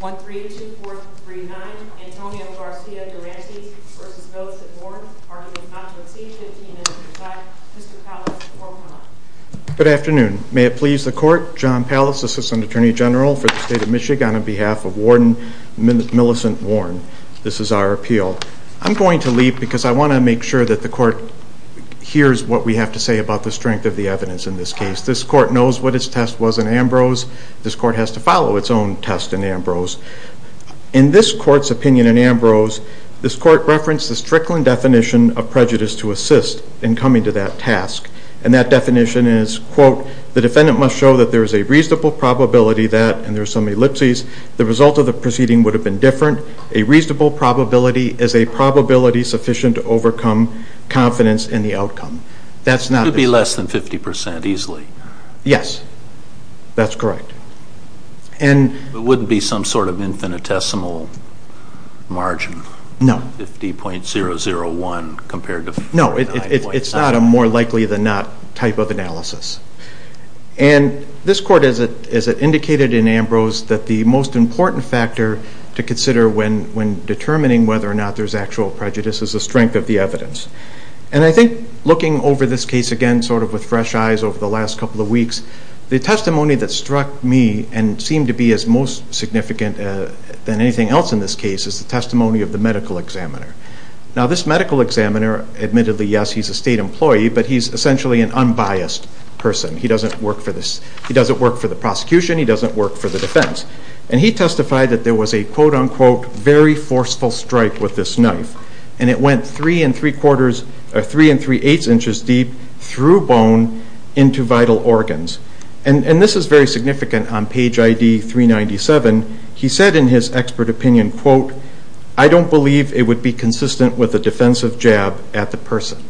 1-3-2-4-3-9 Antonio Garcia-Dorantes v. Millicent Warren Arguing Controversy 15-25 Mr. Pallas, 4-1-1 Good afternoon. May it please the court, John Pallas, Assistant Attorney General for the State of Michigan on behalf of Warden Millicent Warren. This is our appeal. I'm going to leave because I want to make sure that the court hears what we have to say about the strength of the evidence in this case. This court knows what its test was in Ambrose. This court has to follow its own test in Ambrose. In this court's opinion in Ambrose, this court referenced the Strickland definition of prejudice to assist in coming to that task. And that definition is, quote, the defendant must show that there is a reasonable probability that, and there are some ellipses, the result of the proceeding would have been different. A reasonable probability is a probability sufficient to overcome confidence in the outcome. It would be less than 50% easily. Yes, that's correct. It wouldn't be some sort of infinitesimal margin. No. 50.001 compared to 49.001. No, it's not a more likely than not type of analysis. And this court, as it indicated in Ambrose, that the most important factor to consider when determining whether or not there's actual prejudice is the strength of the evidence. And I think looking over this case again sort of with fresh eyes over the last couple of weeks, the testimony that struck me and seemed to be as most significant than anything else in this case is the testimony of the medical examiner. Now, this medical examiner, admittedly, yes, he's a state employee, but he's essentially an unbiased person. He doesn't work for the prosecution. He doesn't work for the defense. And he testified that there was a, quote, unquote, very forceful strike with this knife. And it went three and three-quarters or three and three-eighths inches deep through bone into vital organs. And this is very significant on page ID 397. He said in his expert opinion, quote, I don't believe it would be consistent with a defensive jab at the person.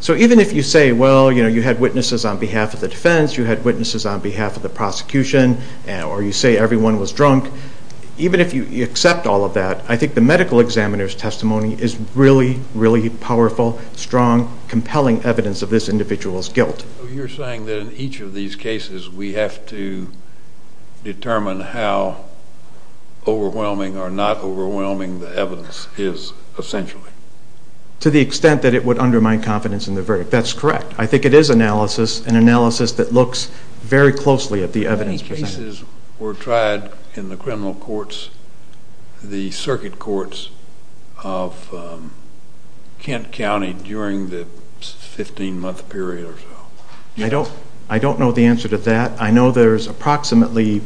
So even if you say, well, you know, you had witnesses on behalf of the defense, you had witnesses on behalf of the prosecution, or you say everyone was drunk, even if you accept all of that, I think the medical examiner's testimony is really, really powerful, strong, compelling evidence of this individual's guilt. So you're saying that in each of these cases we have to determine how overwhelming or not overwhelming the evidence is essentially? To the extent that it would undermine confidence in the verdict. That's correct. I think it is analysis, an analysis that looks very closely at the evidence presented. How many cases were tried in the criminal courts, the circuit courts, of Kent County during the 15-month period or so? I don't know the answer to that. I know there's approximately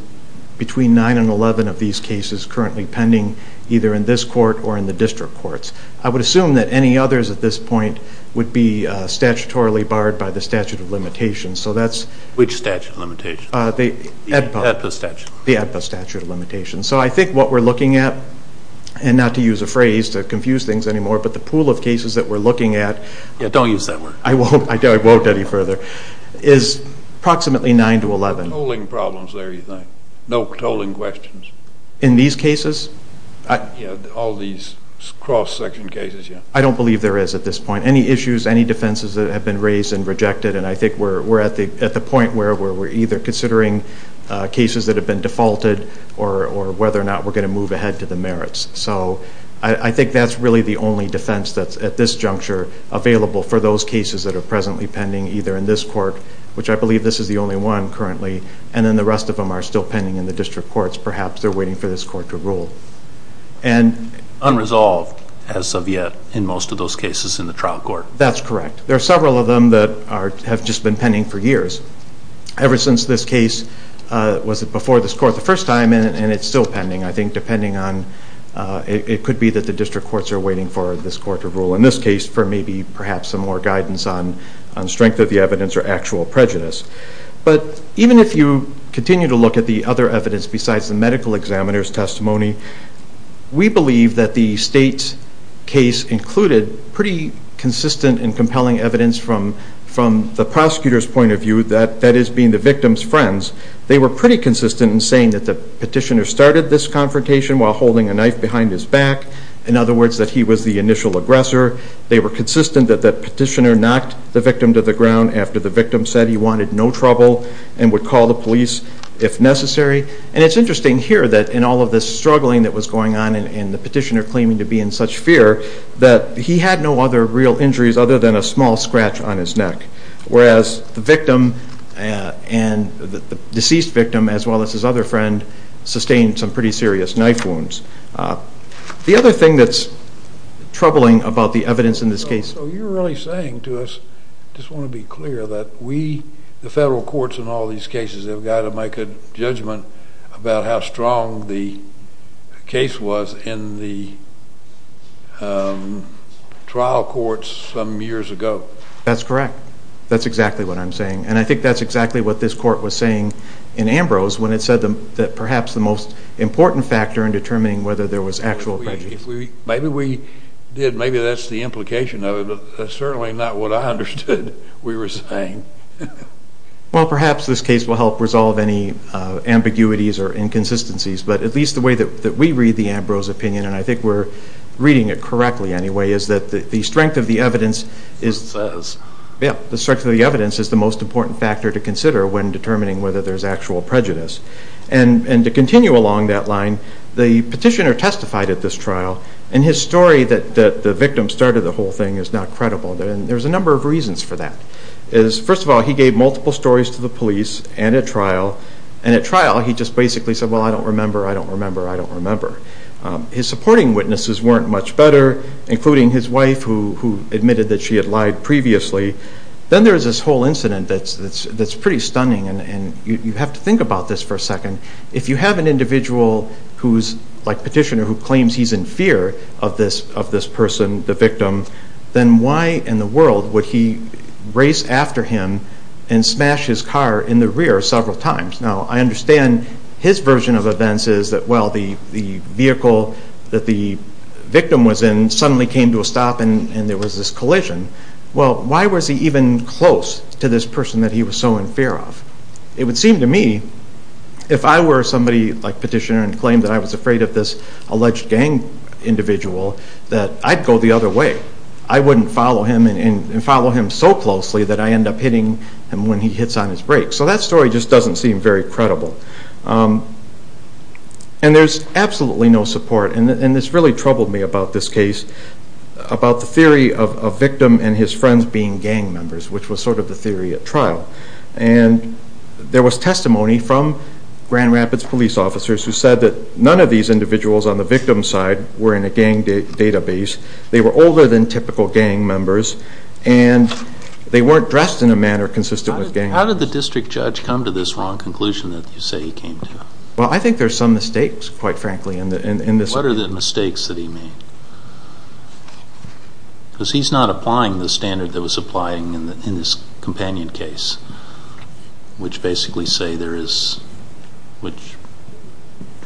between 9 and 11 of these cases currently pending either in this court or in the district courts. I would assume that any others at this point would be statutorily barred by the statute of limitations. Which statute of limitations? The ADPA statute of limitations. So I think what we're looking at, and not to use a phrase to confuse things anymore, but the pool of cases that we're looking at. Don't use that word. I won't. I won't any further. Is approximately 9 to 11. No tolling problems there, you think? No tolling questions? In these cases? Yeah, all these cross-section cases, yeah. I don't believe there is at this point. Any issues, any defenses that have been raised and rejected, and I think we're at the point where we're either considering cases that have been defaulted or whether or not we're going to move ahead to the merits. So I think that's really the only defense that's at this juncture available for those cases that are presently pending either in this court, which I believe this is the only one currently, and then the rest of them are still pending in the district courts. Perhaps they're waiting for this court to rule. Unresolved, as of yet, in most of those cases in the trial court. That's correct. There are several of them that have just been pending for years. Ever since this case, was it before this court the first time, and it's still pending, I think, depending on, it could be that the district courts are waiting for this court to rule. In this case, for maybe perhaps some more guidance on strength of the evidence or actual prejudice. But even if you continue to look at the other evidence besides the medical examiner's testimony, we believe that the state's case included pretty consistent and compelling evidence from the prosecutor's point of view, that is being the victim's friends. They were pretty consistent in saying that the petitioner started this confrontation while holding a knife behind his back. In other words, that he was the initial aggressor. They were consistent that the petitioner knocked the victim to the ground after the victim said he wanted no trouble and would call the police if necessary. And it's interesting here that in all of this struggling that was going on and the petitioner claiming to be in such fear, that he had no other real injuries other than a small scratch on his neck, whereas the victim and the deceased victim, as well as his other friend, sustained some pretty serious knife wounds. The other thing that's troubling about the evidence in this case... So you're really saying to us, I just want to be clear, that we, the federal courts in all these cases, have got to make a judgment about how strong the case was in the trial courts some years ago. That's correct. That's exactly what I'm saying. And I think that's exactly what this court was saying in Ambrose when it said that perhaps the most important factor in determining whether there was actual prejudice. Maybe we did. Maybe that's the implication of it. But that's certainly not what I understood we were saying. Well, perhaps this case will help resolve any ambiguities or inconsistencies. But at least the way that we read the Ambrose opinion, and I think we're reading it correctly anyway, is that the strength of the evidence is the most important factor to consider when determining whether there's actual prejudice. And to continue along that line, the petitioner testified at this trial, and his story that the victim started the whole thing is not credible. There's a number of reasons for that. First of all, he gave multiple stories to the police and at trial, and at trial he just basically said, well, I don't remember, I don't remember, I don't remember. His supporting witnesses weren't much better, including his wife, who admitted that she had lied previously. Then there's this whole incident that's pretty stunning, and you have to think about this for a second. If you have an individual who's a petitioner who claims he's in fear of this person, the victim, then why in the world would he race after him and smash his car in the rear several times? Now, I understand his version of events is that, well, the vehicle that the victim was in suddenly came to a stop and there was this collision. Well, why was he even close to this person that he was so in fear of? It would seem to me, if I were somebody like petitioner and claimed that I was afraid of this alleged gang individual, that I'd go the other way. I wouldn't follow him and follow him so closely that I end up hitting him when he hits on his brakes. So that story just doesn't seem very credible. And there's absolutely no support, and this really troubled me about this case, about the theory of a victim and his friends being gang members, which was sort of the theory at trial. And there was testimony from Grand Rapids police officers who said that none of these individuals on the victim's side were in a gang database, they were older than typical gang members, and they weren't dressed in a manner consistent with gang members. How did the district judge come to this wrong conclusion that you say he came to? Well, I think there's some mistakes, quite frankly, in this. What are the mistakes that he made? Because he's not applying the standard that was applied in his companion case, which basically say there is, which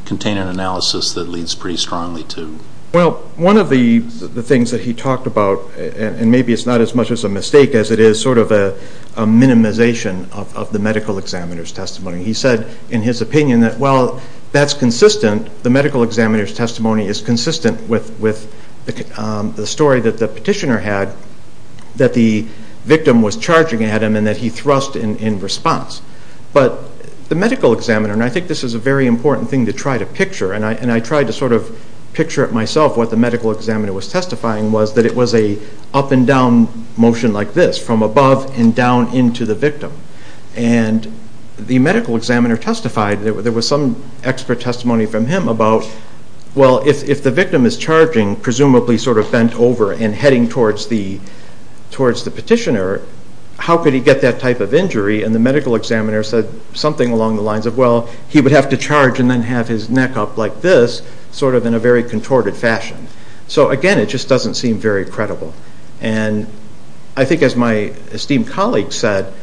contain an analysis that leads pretty strongly to. Well, one of the things that he talked about, and maybe it's not as much as a mistake as it is sort of a minimization of the medical examiner's testimony, he said in his opinion that, well, that's consistent, the medical examiner's testimony is consistent with the story that the petitioner had, that the victim was charging at him and that he thrust in response. But the medical examiner, and I think this is a very important thing to try to picture, and I tried to sort of picture it myself, what the medical examiner was testifying, was that it was a up and down motion like this, from above and down into the victim. And the medical examiner testified, there was some expert testimony from him about, well, if the victim is charging, presumably sort of bent over and heading towards the petitioner, how could he get that type of injury? And the medical examiner said something along the lines of, well, he would have to charge and then have his neck up like this, sort of in a very contorted fashion. And I think as my esteemed colleague said,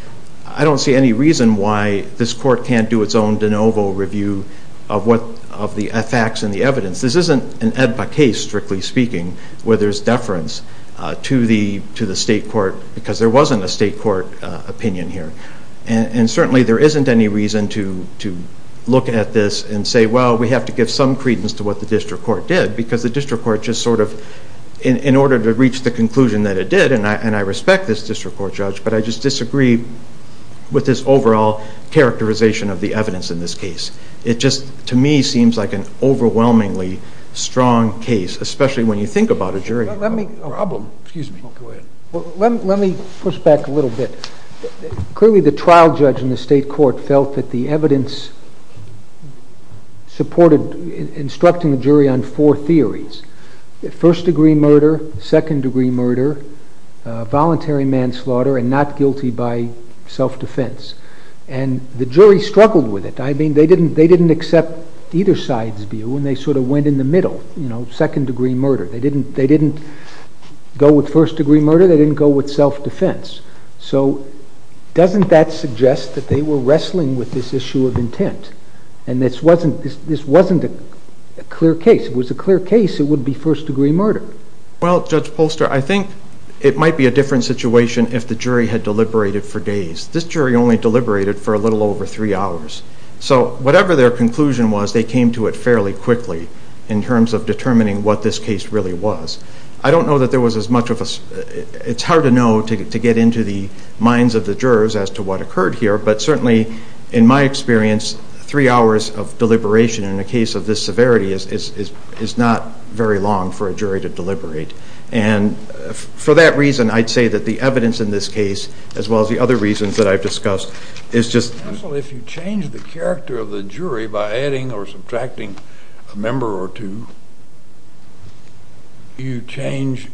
I don't see any reason why this court can't do its own de novo review of the facts and the evidence. This isn't an AEDPA case, strictly speaking, where there's deference to the state court because there wasn't a state court opinion here. And certainly there isn't any reason to look at this and say, well, we have to give some credence to what the district court did because the district court just sort of, in order to reach the conclusion that it did, and I respect this district court judge, but I just disagree with this overall characterization of the evidence in this case. It just, to me, seems like an overwhelmingly strong case, especially when you think about a jury problem. Excuse me. Go ahead. Let me push back a little bit. Clearly the trial judge in the state court felt that the evidence supported instructing the jury on four theories, first degree murder, second degree murder, voluntary manslaughter, and not guilty by self-defense. And the jury struggled with it. I mean, they didn't accept either side's view, and they sort of went in the middle, you know, second degree murder. They didn't go with first degree murder. They didn't go with self-defense. So doesn't that suggest that they were wrestling with this issue of intent? And this wasn't a clear case. If it was a clear case, it would be first degree murder. Well, Judge Polster, I think it might be a different situation if the jury had deliberated for days. This jury only deliberated for a little over three hours. So whatever their conclusion was, they came to it fairly quickly in terms of determining what this case really was. I don't know that there was as much of a – it's hard to know to get into the minds of the jurors as to what occurred here, but certainly in my experience, three hours of deliberation in a case of this severity is not very long for a jury to deliberate. And for that reason, I'd say that the evidence in this case, as well as the other reasons that I've discussed, is just – Counsel, if you change the character of the jury by adding or subtracting a member or two, you change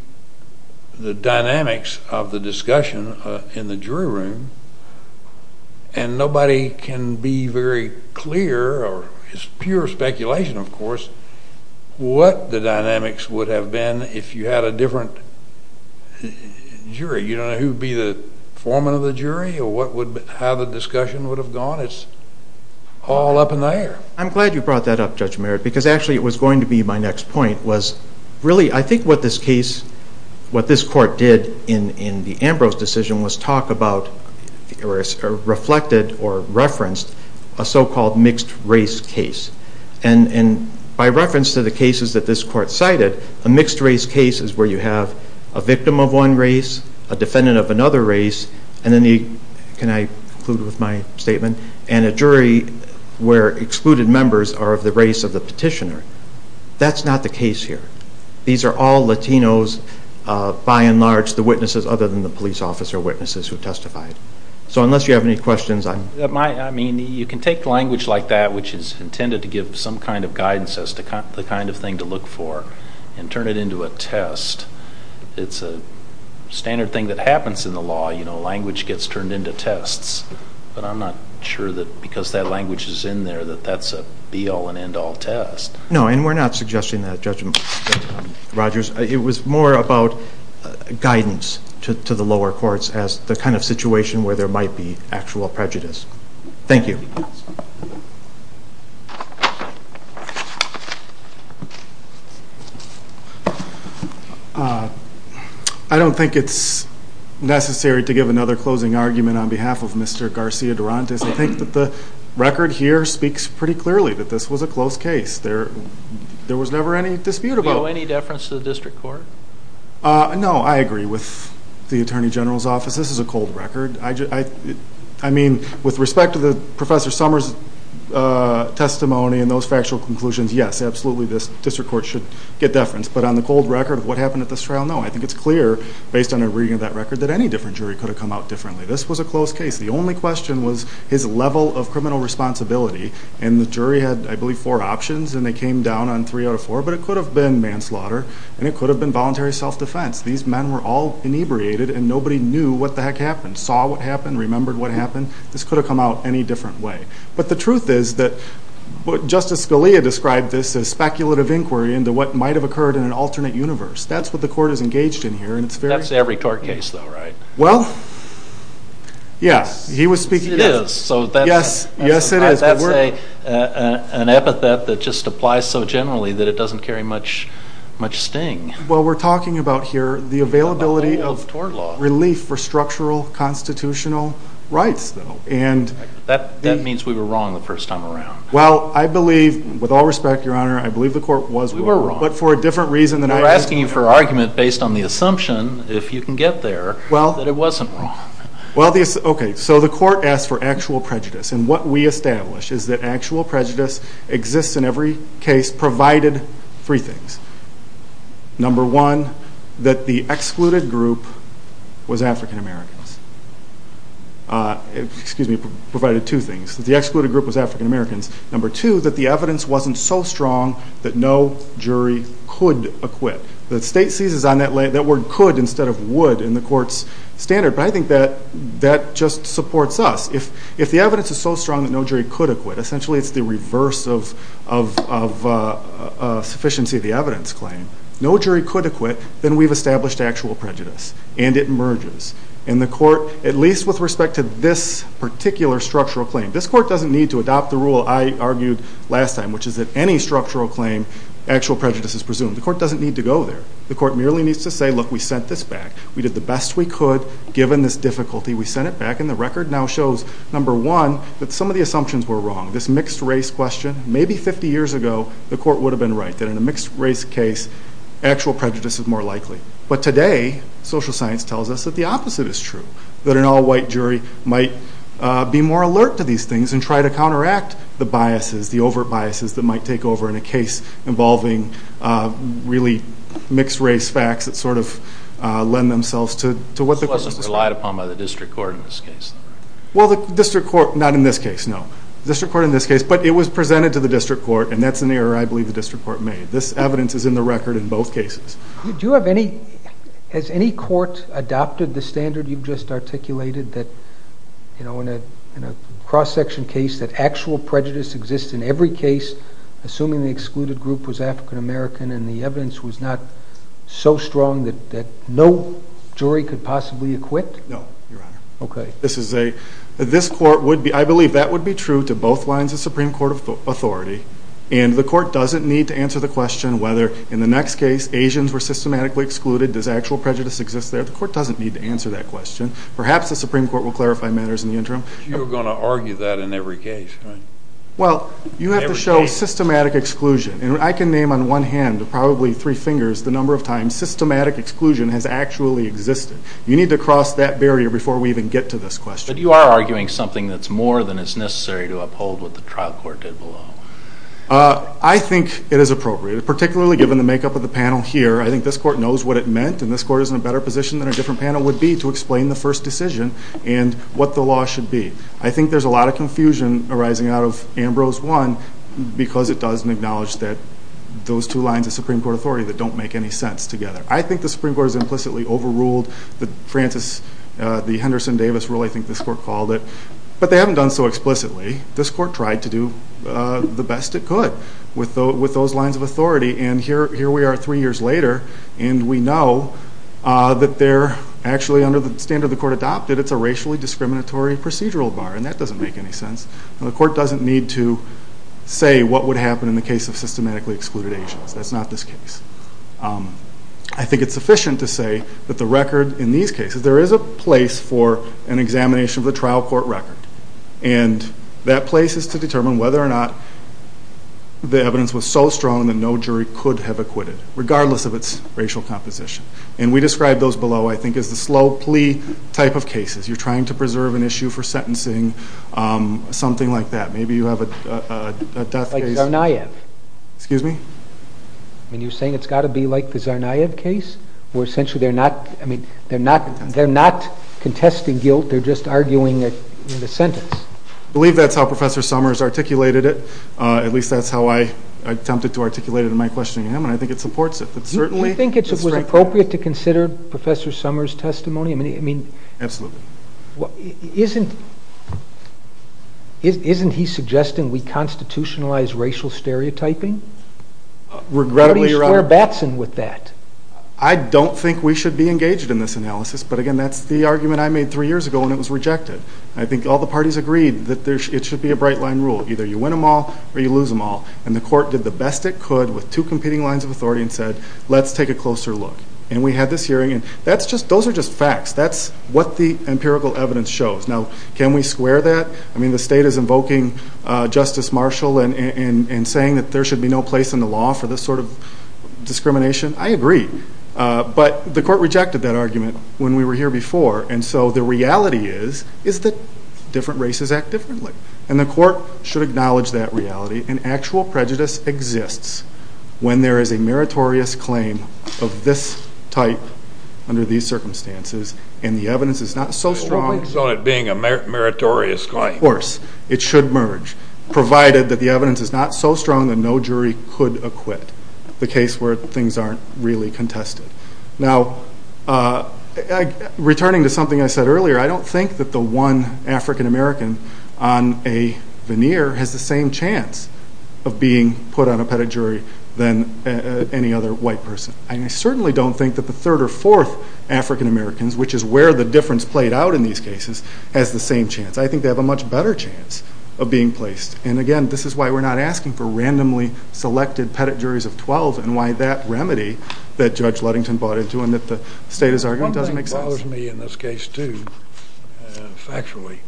the dynamics of the discussion in the jury room, and nobody can be very clear, or it's pure speculation, of course, what the dynamics would have been if you had a different jury. You don't know who would be the foreman of the jury or how the discussion would have gone. It's all up in the air. I'm glad you brought that up, Judge Merritt, because actually it was going to be my next point, was really I think what this case – what this court did in the Ambrose decision was talk about or reflected or referenced a so-called mixed-race case. And by reference to the cases that this court cited, a mixed-race case is where you have a victim of one race, a defendant of another race, and then the – can I conclude with my statement? And a jury where excluded members are of the race of the petitioner. That's not the case here. These are all Latinos by and large, the witnesses other than the police officer witnesses who testified. So unless you have any questions, I'm – I mean, you can take language like that, which is intended to give some kind of guidance as to the kind of thing to look for, and turn it into a test. It's a standard thing that happens in the law. Language gets turned into tests. But I'm not sure that because that language is in there that that's a be-all and end-all test. No, and we're not suggesting that, Judge Rogers. It was more about guidance to the lower courts as the kind of situation where there might be actual prejudice. Thank you. I don't think it's necessary to give another closing argument on behalf of Mr. Garcia-Durantes. I think that the record here speaks pretty clearly that this was a close case. There was never any dispute about it. Do you owe any deference to the district court? No, I agree with the Attorney General's office. This is a cold record. I mean, with respect to Professor Summers' testimony and those factual conclusions, yes, absolutely, this district court should get deference. But on the cold record of what happened at this trial, no. I think it's clear based on a reading of that record that any different jury could have come out differently. This was a close case. The only question was his level of criminal responsibility, and the jury had, I believe, four options, and they came down on three out of four. But it could have been manslaughter, and it could have been voluntary self-defense. These men were all inebriated, and nobody knew what the heck happened, saw what happened, remembered what happened. This could have come out any different way. But the truth is that Justice Scalia described this as speculative inquiry into what might have occurred in an alternate universe. That's what the court is engaged in here. That's every tort case, though, right? Well, yes. It is. Yes, it is. That's an epithet that just applies so generally that it doesn't carry much sting. Well, we're talking about here the availability of relief for structural constitutional rights, though. That means we were wrong the first time around. Well, I believe, with all respect, Your Honor, I believe the court was wrong. You were wrong. But for a different reason than I was. We're asking you for argument based on the assumption, if you can get there, that it wasn't wrong. Well, okay, so the court asked for actual prejudice. And what we established is that actual prejudice exists in every case provided three things. Number one, that the excluded group was African Americans. Excuse me, provided two things. That the excluded group was African Americans. Number two, that the evidence wasn't so strong that no jury could acquit. The state seizes on that word could instead of would in the court's standard. But I think that that just supports us. If the evidence is so strong that no jury could acquit, essentially it's the reverse of sufficiency of the evidence claim. No jury could acquit. Then we've established actual prejudice, and it merges. And the court, at least with respect to this particular structural claim, this court doesn't need to adopt the rule I argued last time, which is that any structural claim, actual prejudice is presumed. The court doesn't need to go there. The court merely needs to say, look, we sent this back. We did the best we could given this difficulty. We sent it back, and the record now shows, number one, that some of the assumptions were wrong. This mixed race question, maybe 50 years ago, the court would have been right that in a mixed race case, actual prejudice is more likely. But today, social science tells us that the opposite is true, that an all-white jury might be more alert to these things and try to counteract the biases, the overt biases, that might take over in a case involving really mixed race facts that sort of lend themselves to what the court says. This wasn't relied upon by the district court in this case. Well, the district court, not in this case, no. The district court in this case, but it was presented to the district court, and that's an error I believe the district court made. This evidence is in the record in both cases. Has any court adopted the standard you've just articulated that in a cross-section case that actual prejudice exists in every case, assuming the excluded group was African American and the evidence was not so strong that no jury could possibly acquit? No, Your Honor. Okay. This court would be, I believe that would be true to both lines of Supreme Court authority, and the court doesn't need to answer the question whether in the next case Asians were systematically excluded. Does actual prejudice exist there? The court doesn't need to answer that question. Perhaps the Supreme Court will clarify matters in the interim. But you're going to argue that in every case, right? Well, you have to show systematic exclusion, and I can name on one hand or probably three fingers the number of times systematic exclusion has actually existed. You need to cross that barrier before we even get to this question. But you are arguing something that's more than is necessary to uphold what the trial court did below. I think it is appropriate, particularly given the makeup of the panel here. I think this court knows what it meant, and this court is in a better position than a different panel would be to explain the first decision and what the law should be. I think there's a lot of confusion arising out of Ambrose 1 because it doesn't acknowledge that those two lines of Supreme Court authority that don't make any sense together. I think the Supreme Court has implicitly overruled the Francis, the Henderson-Davis rule, I think this court called it. But they haven't done so explicitly. This court tried to do the best it could with those lines of authority, and here we are three years later, and we know that they're actually under the standard the court adopted. It's a racially discriminatory procedural bar, and that doesn't make any sense. The court doesn't need to say what would happen in the case of systematically excluded Asians. That's not this case. I think it's sufficient to say that the record in these cases, there is a place for an examination of the trial court record, and that place is to determine whether or not the evidence was so strong that no jury could have acquitted, regardless of its racial composition. And we described those below, I think, as the slow plea type of cases. You're trying to preserve an issue for sentencing, something like that. Maybe you have a death case. Like Tsarnaev. Excuse me? I mean, you're saying it's got to be like the Tsarnaev case where essentially they're not contesting guilt. They're just arguing it in the sentence. I believe that's how Professor Summers articulated it. At least that's how I attempted to articulate it in my questioning of him, and I think it supports it. Do you think it was appropriate to consider Professor Summers' testimony? Absolutely. Isn't he suggesting we constitutionalize racial stereotyping? Regrettably, Your Honor. How do you square Batson with that? I don't think we should be engaged in this analysis, but, again, that's the argument I made three years ago, and it was rejected. I think all the parties agreed that it should be a bright-line rule. Either you win them all or you lose them all, and the court did the best it could with two competing lines of authority and said, let's take a closer look. And we had this hearing, and those are just facts. That's what the empirical evidence shows. Now, can we square that? I mean, the state is invoking Justice Marshall and saying that there should be no place in the law for this sort of discrimination. I agree. But the court rejected that argument when we were here before, and so the reality is that different races act differently, and the court should acknowledge that reality. And actual prejudice exists when there is a meritorious claim of this type under these circumstances, and the evidence is not so strong. So it being a meritorious claim. Of course. It should merge, provided that the evidence is not so strong that no jury could acquit, the case where things aren't really contested. Now, returning to something I said earlier, I don't think that the one African-American on a veneer has the same chance of being put on a pettit jury than any other white person. I certainly don't think that the third or fourth African-Americans, which is where the difference played out in these cases, has the same chance. I think they have a much better chance of being placed. And, again, this is why we're not asking for randomly selected pettit juries of 12 and why that remedy that Judge Ludington bought into and that the state is arguing doesn't make sense. One thing that bothers me in this case, too, factually,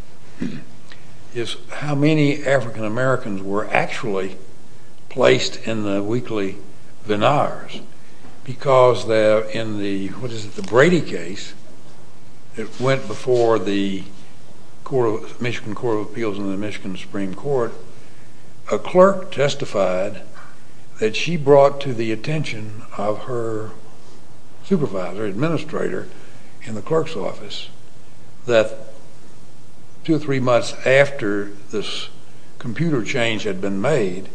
is how many African-Americans were actually placed in the weekly veneers because in the Brady case, it went before the Michigan Court of Appeals and the Michigan Supreme Court. A clerk testified that she brought to the attention of her supervisor, administrator, in the clerk's office that two or three months after this computer change had been made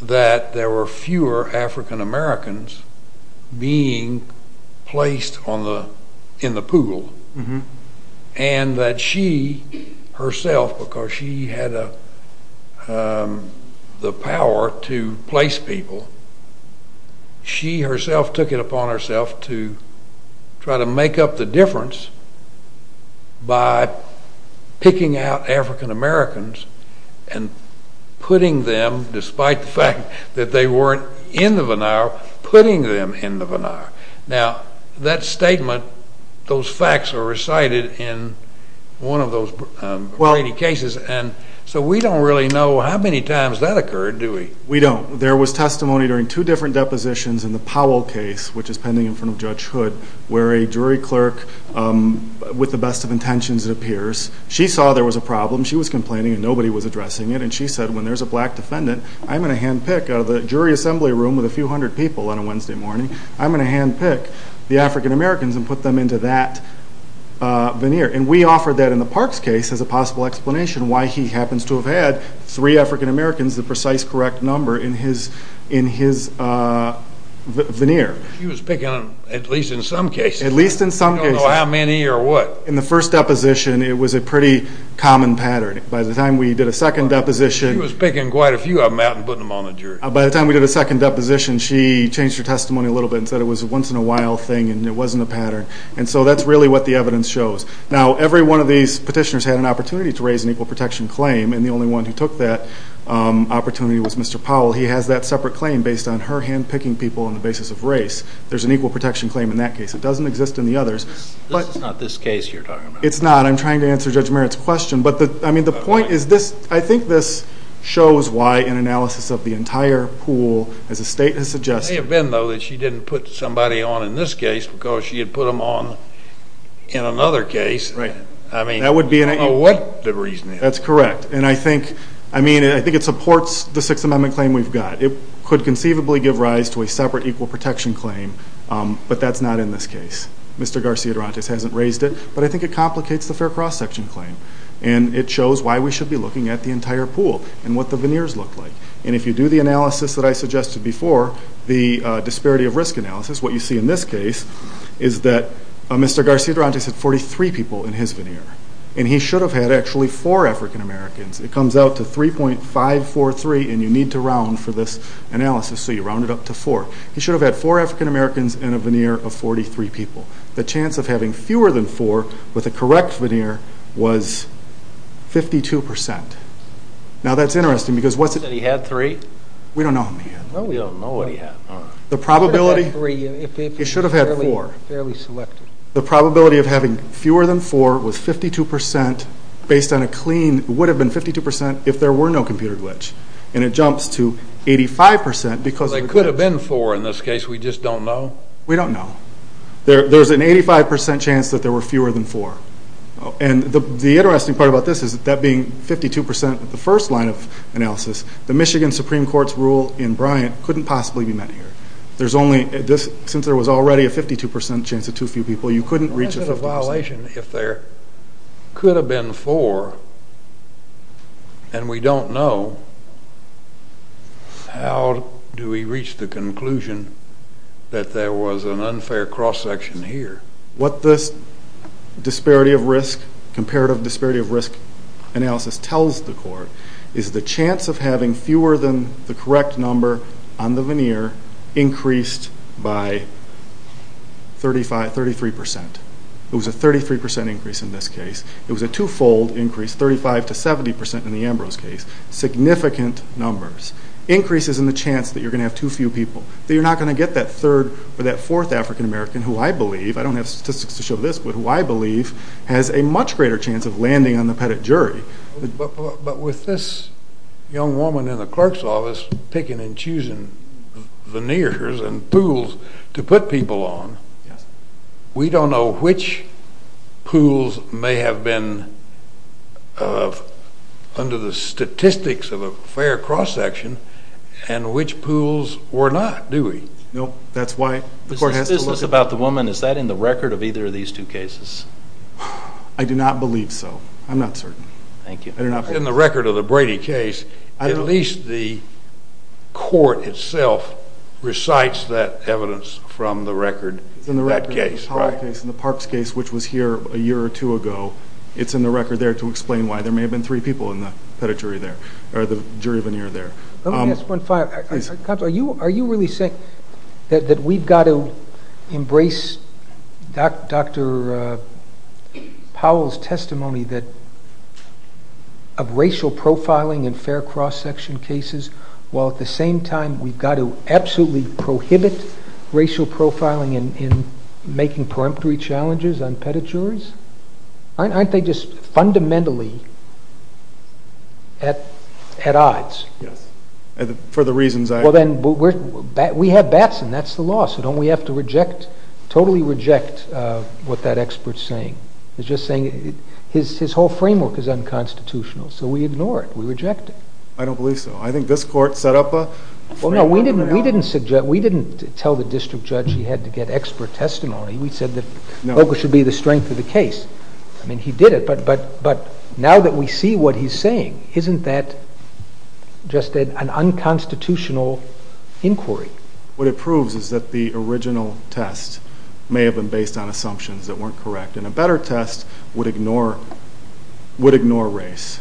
that there were fewer African-Americans being placed in the pool and that she herself, because she had the power to place people, she herself took it upon herself to try to make up the difference by picking out African-Americans and putting them, despite the fact that they weren't in the veneer, putting them in the veneer. Now, that statement, those facts are recited in one of those Brady cases, and so we don't really know how many times that occurred, do we? We don't. There was testimony during two different depositions in the Powell case, which is pending in front of Judge Hood, where a jury clerk, with the best of intentions, it appears, she saw there was a problem, she was complaining, and nobody was addressing it, and she said, when there's a black defendant, I'm going to handpick out of the jury assembly room with a few hundred people on a Wednesday morning, I'm going to handpick the African-Americans and put them into that veneer. And we offered that in the Parks case as a possible explanation why he happens to have had three African-Americans, the precise correct number, in his veneer. She was picking them, at least in some cases. At least in some cases. We don't know how many or what. In the first deposition, it was a pretty common pattern. By the time we did a second deposition. She was picking quite a few of them out and putting them on the jury. By the time we did a second deposition, she changed her testimony a little bit and said it was a once-in-a-while thing and it wasn't a pattern. And so that's really what the evidence shows. Now, every one of these petitioners had an opportunity to raise an equal protection claim, and the only one who took that opportunity was Mr. Powell. He has that separate claim based on her handpicking people on the basis of race. There's an equal protection claim in that case. It doesn't exist in the others. This is not this case you're talking about. It's not. I'm trying to answer Judge Merritt's question. I think this shows why an analysis of the entire pool, as the state has suggested. It may have been, though, that she didn't put somebody on in this case because she had put them on in another case. Right. I mean, I don't know what the reason is. That's correct. And I think it supports the Sixth Amendment claim we've got. It could conceivably give rise to a separate equal protection claim, but that's not in this case. Mr. Garcia-Durantes hasn't raised it, but I think it complicates the fair cross-section claim, and it shows why we should be looking at the entire pool and what the veneers look like. And if you do the analysis that I suggested before, the disparity of risk analysis, what you see in this case, is that Mr. Garcia-Durantes had 43 people in his veneer, and he should have had actually four African-Americans. It comes out to 3.543, and you need to round for this analysis, so you round it up to four. He should have had four African-Americans and a veneer of 43 people. The chance of having fewer than four with a correct veneer was 52%. Now, that's interesting because what's it? Did he have three? We don't know who he had. No, we don't know what he had. The probability? He should have had three. He should have had four. Fairly selected. The probability of having fewer than four was 52% based on a clean, would have been 52% if there were no computer glitch. And it jumps to 85% because of the glitch. They could have been four in this case. We just don't know. We don't know. There's an 85% chance that there were fewer than four. And the interesting part about this is that being 52% at the first line of analysis, the Michigan Supreme Court's rule in Bryant couldn't possibly be met here. Since there was already a 52% chance of too few people, you couldn't reach a 50%. Why is it a violation if there could have been four and we don't know? How do we reach the conclusion that there was an unfair cross-section here? What this disparity of risk, comparative disparity of risk analysis tells the court is the chance of having fewer than the correct number on the veneer increased by 33%. It was a 33% increase in this case. It was a two-fold increase, 35% to 70% in the Ambrose case. Significant numbers. Increases in the chance that you're going to have too few people, that you're not going to get that third or that fourth African-American who I believe, I don't have statistics to show this, but who I believe has a much greater chance of landing on the pettit jury. But with this young woman in the clerk's office picking and choosing veneers and pools to put people on, we don't know which pools may have been under the statistics of a fair cross-section and which pools were not, do we? No. That's why the court has to listen. Is this business about the woman? Is that in the record of either of these two cases? I do not believe so. I'm not certain. Thank you. In the record of the Brady case, at least the court itself recites that evidence from the record of that case. In the Parkes case, which was here a year or two ago, it's in the record there to explain why. There may have been three people in the jury veneer there. Are you really saying that we've got to embrace Dr. Powell's testimony of racial profiling in fair cross-section cases while at the same time we've got to absolutely prohibit racial profiling in making peremptory challenges on pettit juries? Aren't they just fundamentally at odds? Yes, for the reasons I— We have Batson. That's the law, so don't we have to totally reject what that expert's saying? He's just saying his whole framework is unconstitutional, so we ignore it. We reject it. I don't believe so. I think this court set up a framework— We didn't tell the district judge he had to get expert testimony. We said that focus should be the strength of the case. I mean, he did it, but now that we see what he's saying, isn't that just an unconstitutional inquiry? What it proves is that the original test may have been based on assumptions that weren't correct, and a better test would ignore race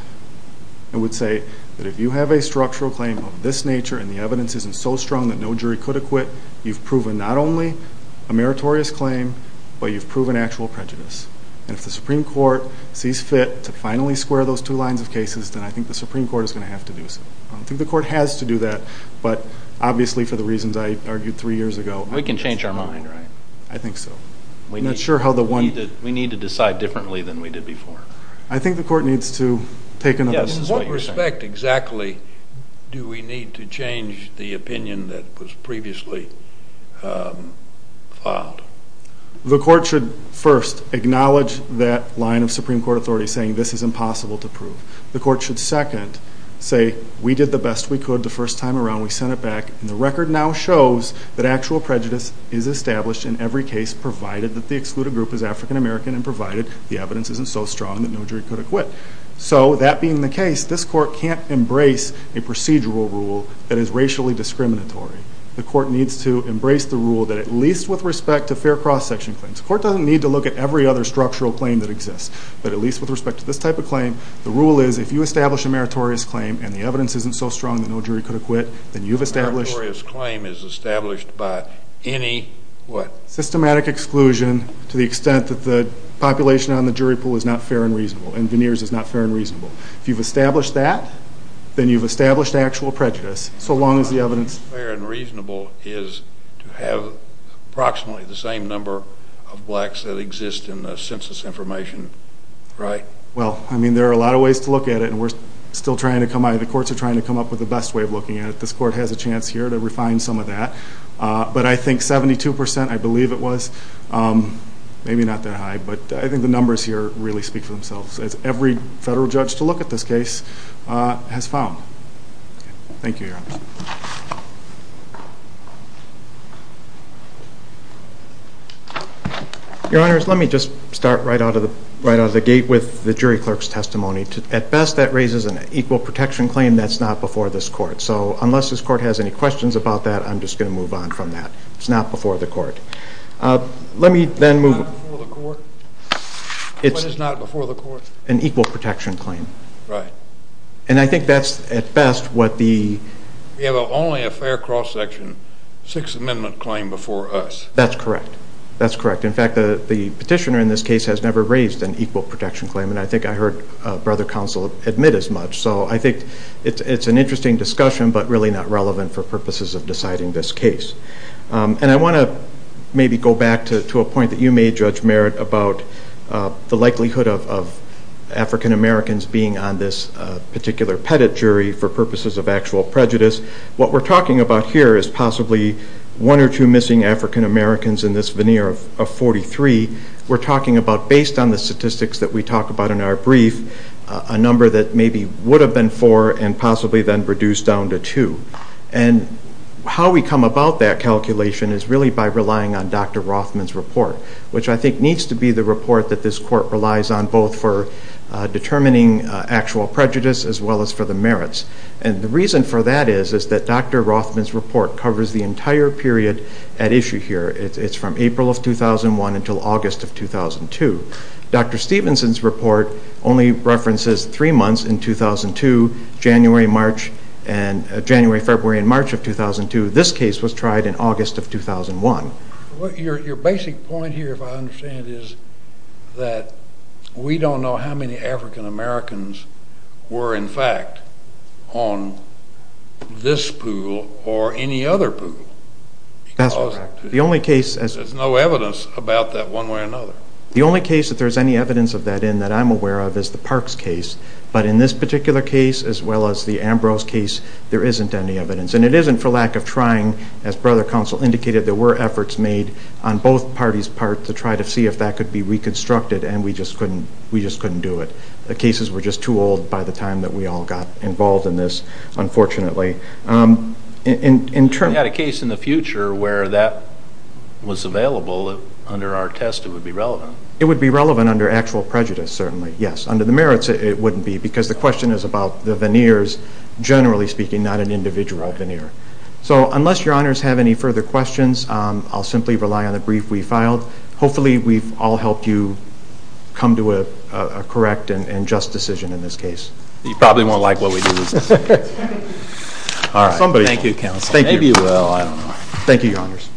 and would say that if you have a structural claim of this nature and the evidence isn't so strong that no jury could acquit, you've proven not only a meritorious claim, but you've proven actual prejudice. And if the Supreme Court sees fit to finally square those two lines of cases, then I think the Supreme Court is going to have to do so. I don't think the court has to do that, but obviously for the reasons I argued three years ago— We can change our mind, right? I think so. We need to decide differently than we did before. I think the court needs to take into— In what respect exactly do we need to change the opinion that was previously filed? The court should first acknowledge that line of Supreme Court authority saying this is impossible to prove. The court should second say we did the best we could the first time around. We sent it back, and the record now shows that actual prejudice is established in every case provided that the excluded group is African American and provided the evidence isn't so strong that no jury could acquit. So that being the case, this court can't embrace a procedural rule that is racially discriminatory. The court needs to embrace the rule that at least with respect to fair cross-section claims— The court doesn't need to look at every other structural claim that exists, but at least with respect to this type of claim, the rule is if you establish a meritorious claim and the evidence isn't so strong that no jury could acquit, then you've established— A meritorious claim is established by any what? Systematic exclusion to the extent that the population on the jury pool is not fair and reasonable and veneers is not fair and reasonable. If you've established that, then you've established actual prejudice, so long as the evidence— Fair and reasonable is to have approximately the same number of blacks that exist in the census information, right? Well, I mean, there are a lot of ways to look at it, and we're still trying to come up— the courts are trying to come up with the best way of looking at it. This court has a chance here to refine some of that. But I think 72 percent, I believe it was, maybe not that high, but I think the numbers here really speak for themselves, as every federal judge to look at this case has found. Thank you, Your Honor. Your Honors, let me just start right out of the gate with the jury clerk's testimony. At best, that raises an equal protection claim that's not before this court. So unless this court has any questions about that, I'm just going to move on from that. It's not before the court. Let me then move— It's not before the court? What is not before the court? An equal protection claim. Right. And I think that's, at best, what the— We have only a fair cross-section, Sixth Amendment claim before us. That's correct. That's correct. In fact, the petitioner in this case has never raised an equal protection claim, and I think I heard Brother Counsel admit as much. So I think it's an interesting discussion, but really not relevant for purposes of deciding this case. And I want to maybe go back to a point that you made, Judge Merritt, about the likelihood of African Americans being on this particular petit jury for purposes of actual prejudice. What we're talking about here is possibly one or two missing African Americans in this veneer of 43. We're talking about, based on the statistics that we talk about in our brief, a number that maybe would have been four and possibly then reduced down to two. And how we come about that calculation is really by relying on Dr. Rothman's report, which I think needs to be the report that this court relies on, both for determining actual prejudice as well as for the merits. And the reason for that is that Dr. Rothman's report covers the entire period at issue here. It's from April of 2001 until August of 2002. Dr. Stevenson's report only references three months in 2002, January, February, and March of 2002. This case was tried in August of 2001. Your basic point here, if I understand it, is that we don't know how many African Americans were, in fact, on this pool or any other pool because there's no evidence about that one way or another. The only case that there's any evidence of that in that I'm aware of is the Parks case. But in this particular case, as well as the Ambrose case, there isn't any evidence. And it isn't for lack of trying. As Brother Counsel indicated, there were efforts made on both parties' part to try to see if that could be reconstructed, and we just couldn't do it. The cases were just too old by the time that we all got involved in this, unfortunately. If we had a case in the future where that was available under our test, it would be relevant. It would be relevant under actual prejudice, certainly, yes. Under the merits, it wouldn't be because the question is about the veneers, generally speaking, not an individual veneer. So unless Your Honors have any further questions, I'll simply rely on the brief we filed. Hopefully we've all helped you come to a correct and just decision in this case. You probably won't like what we do this time. Thank you, Counsel. Maybe you will, I don't know. Thank you, Your Honors.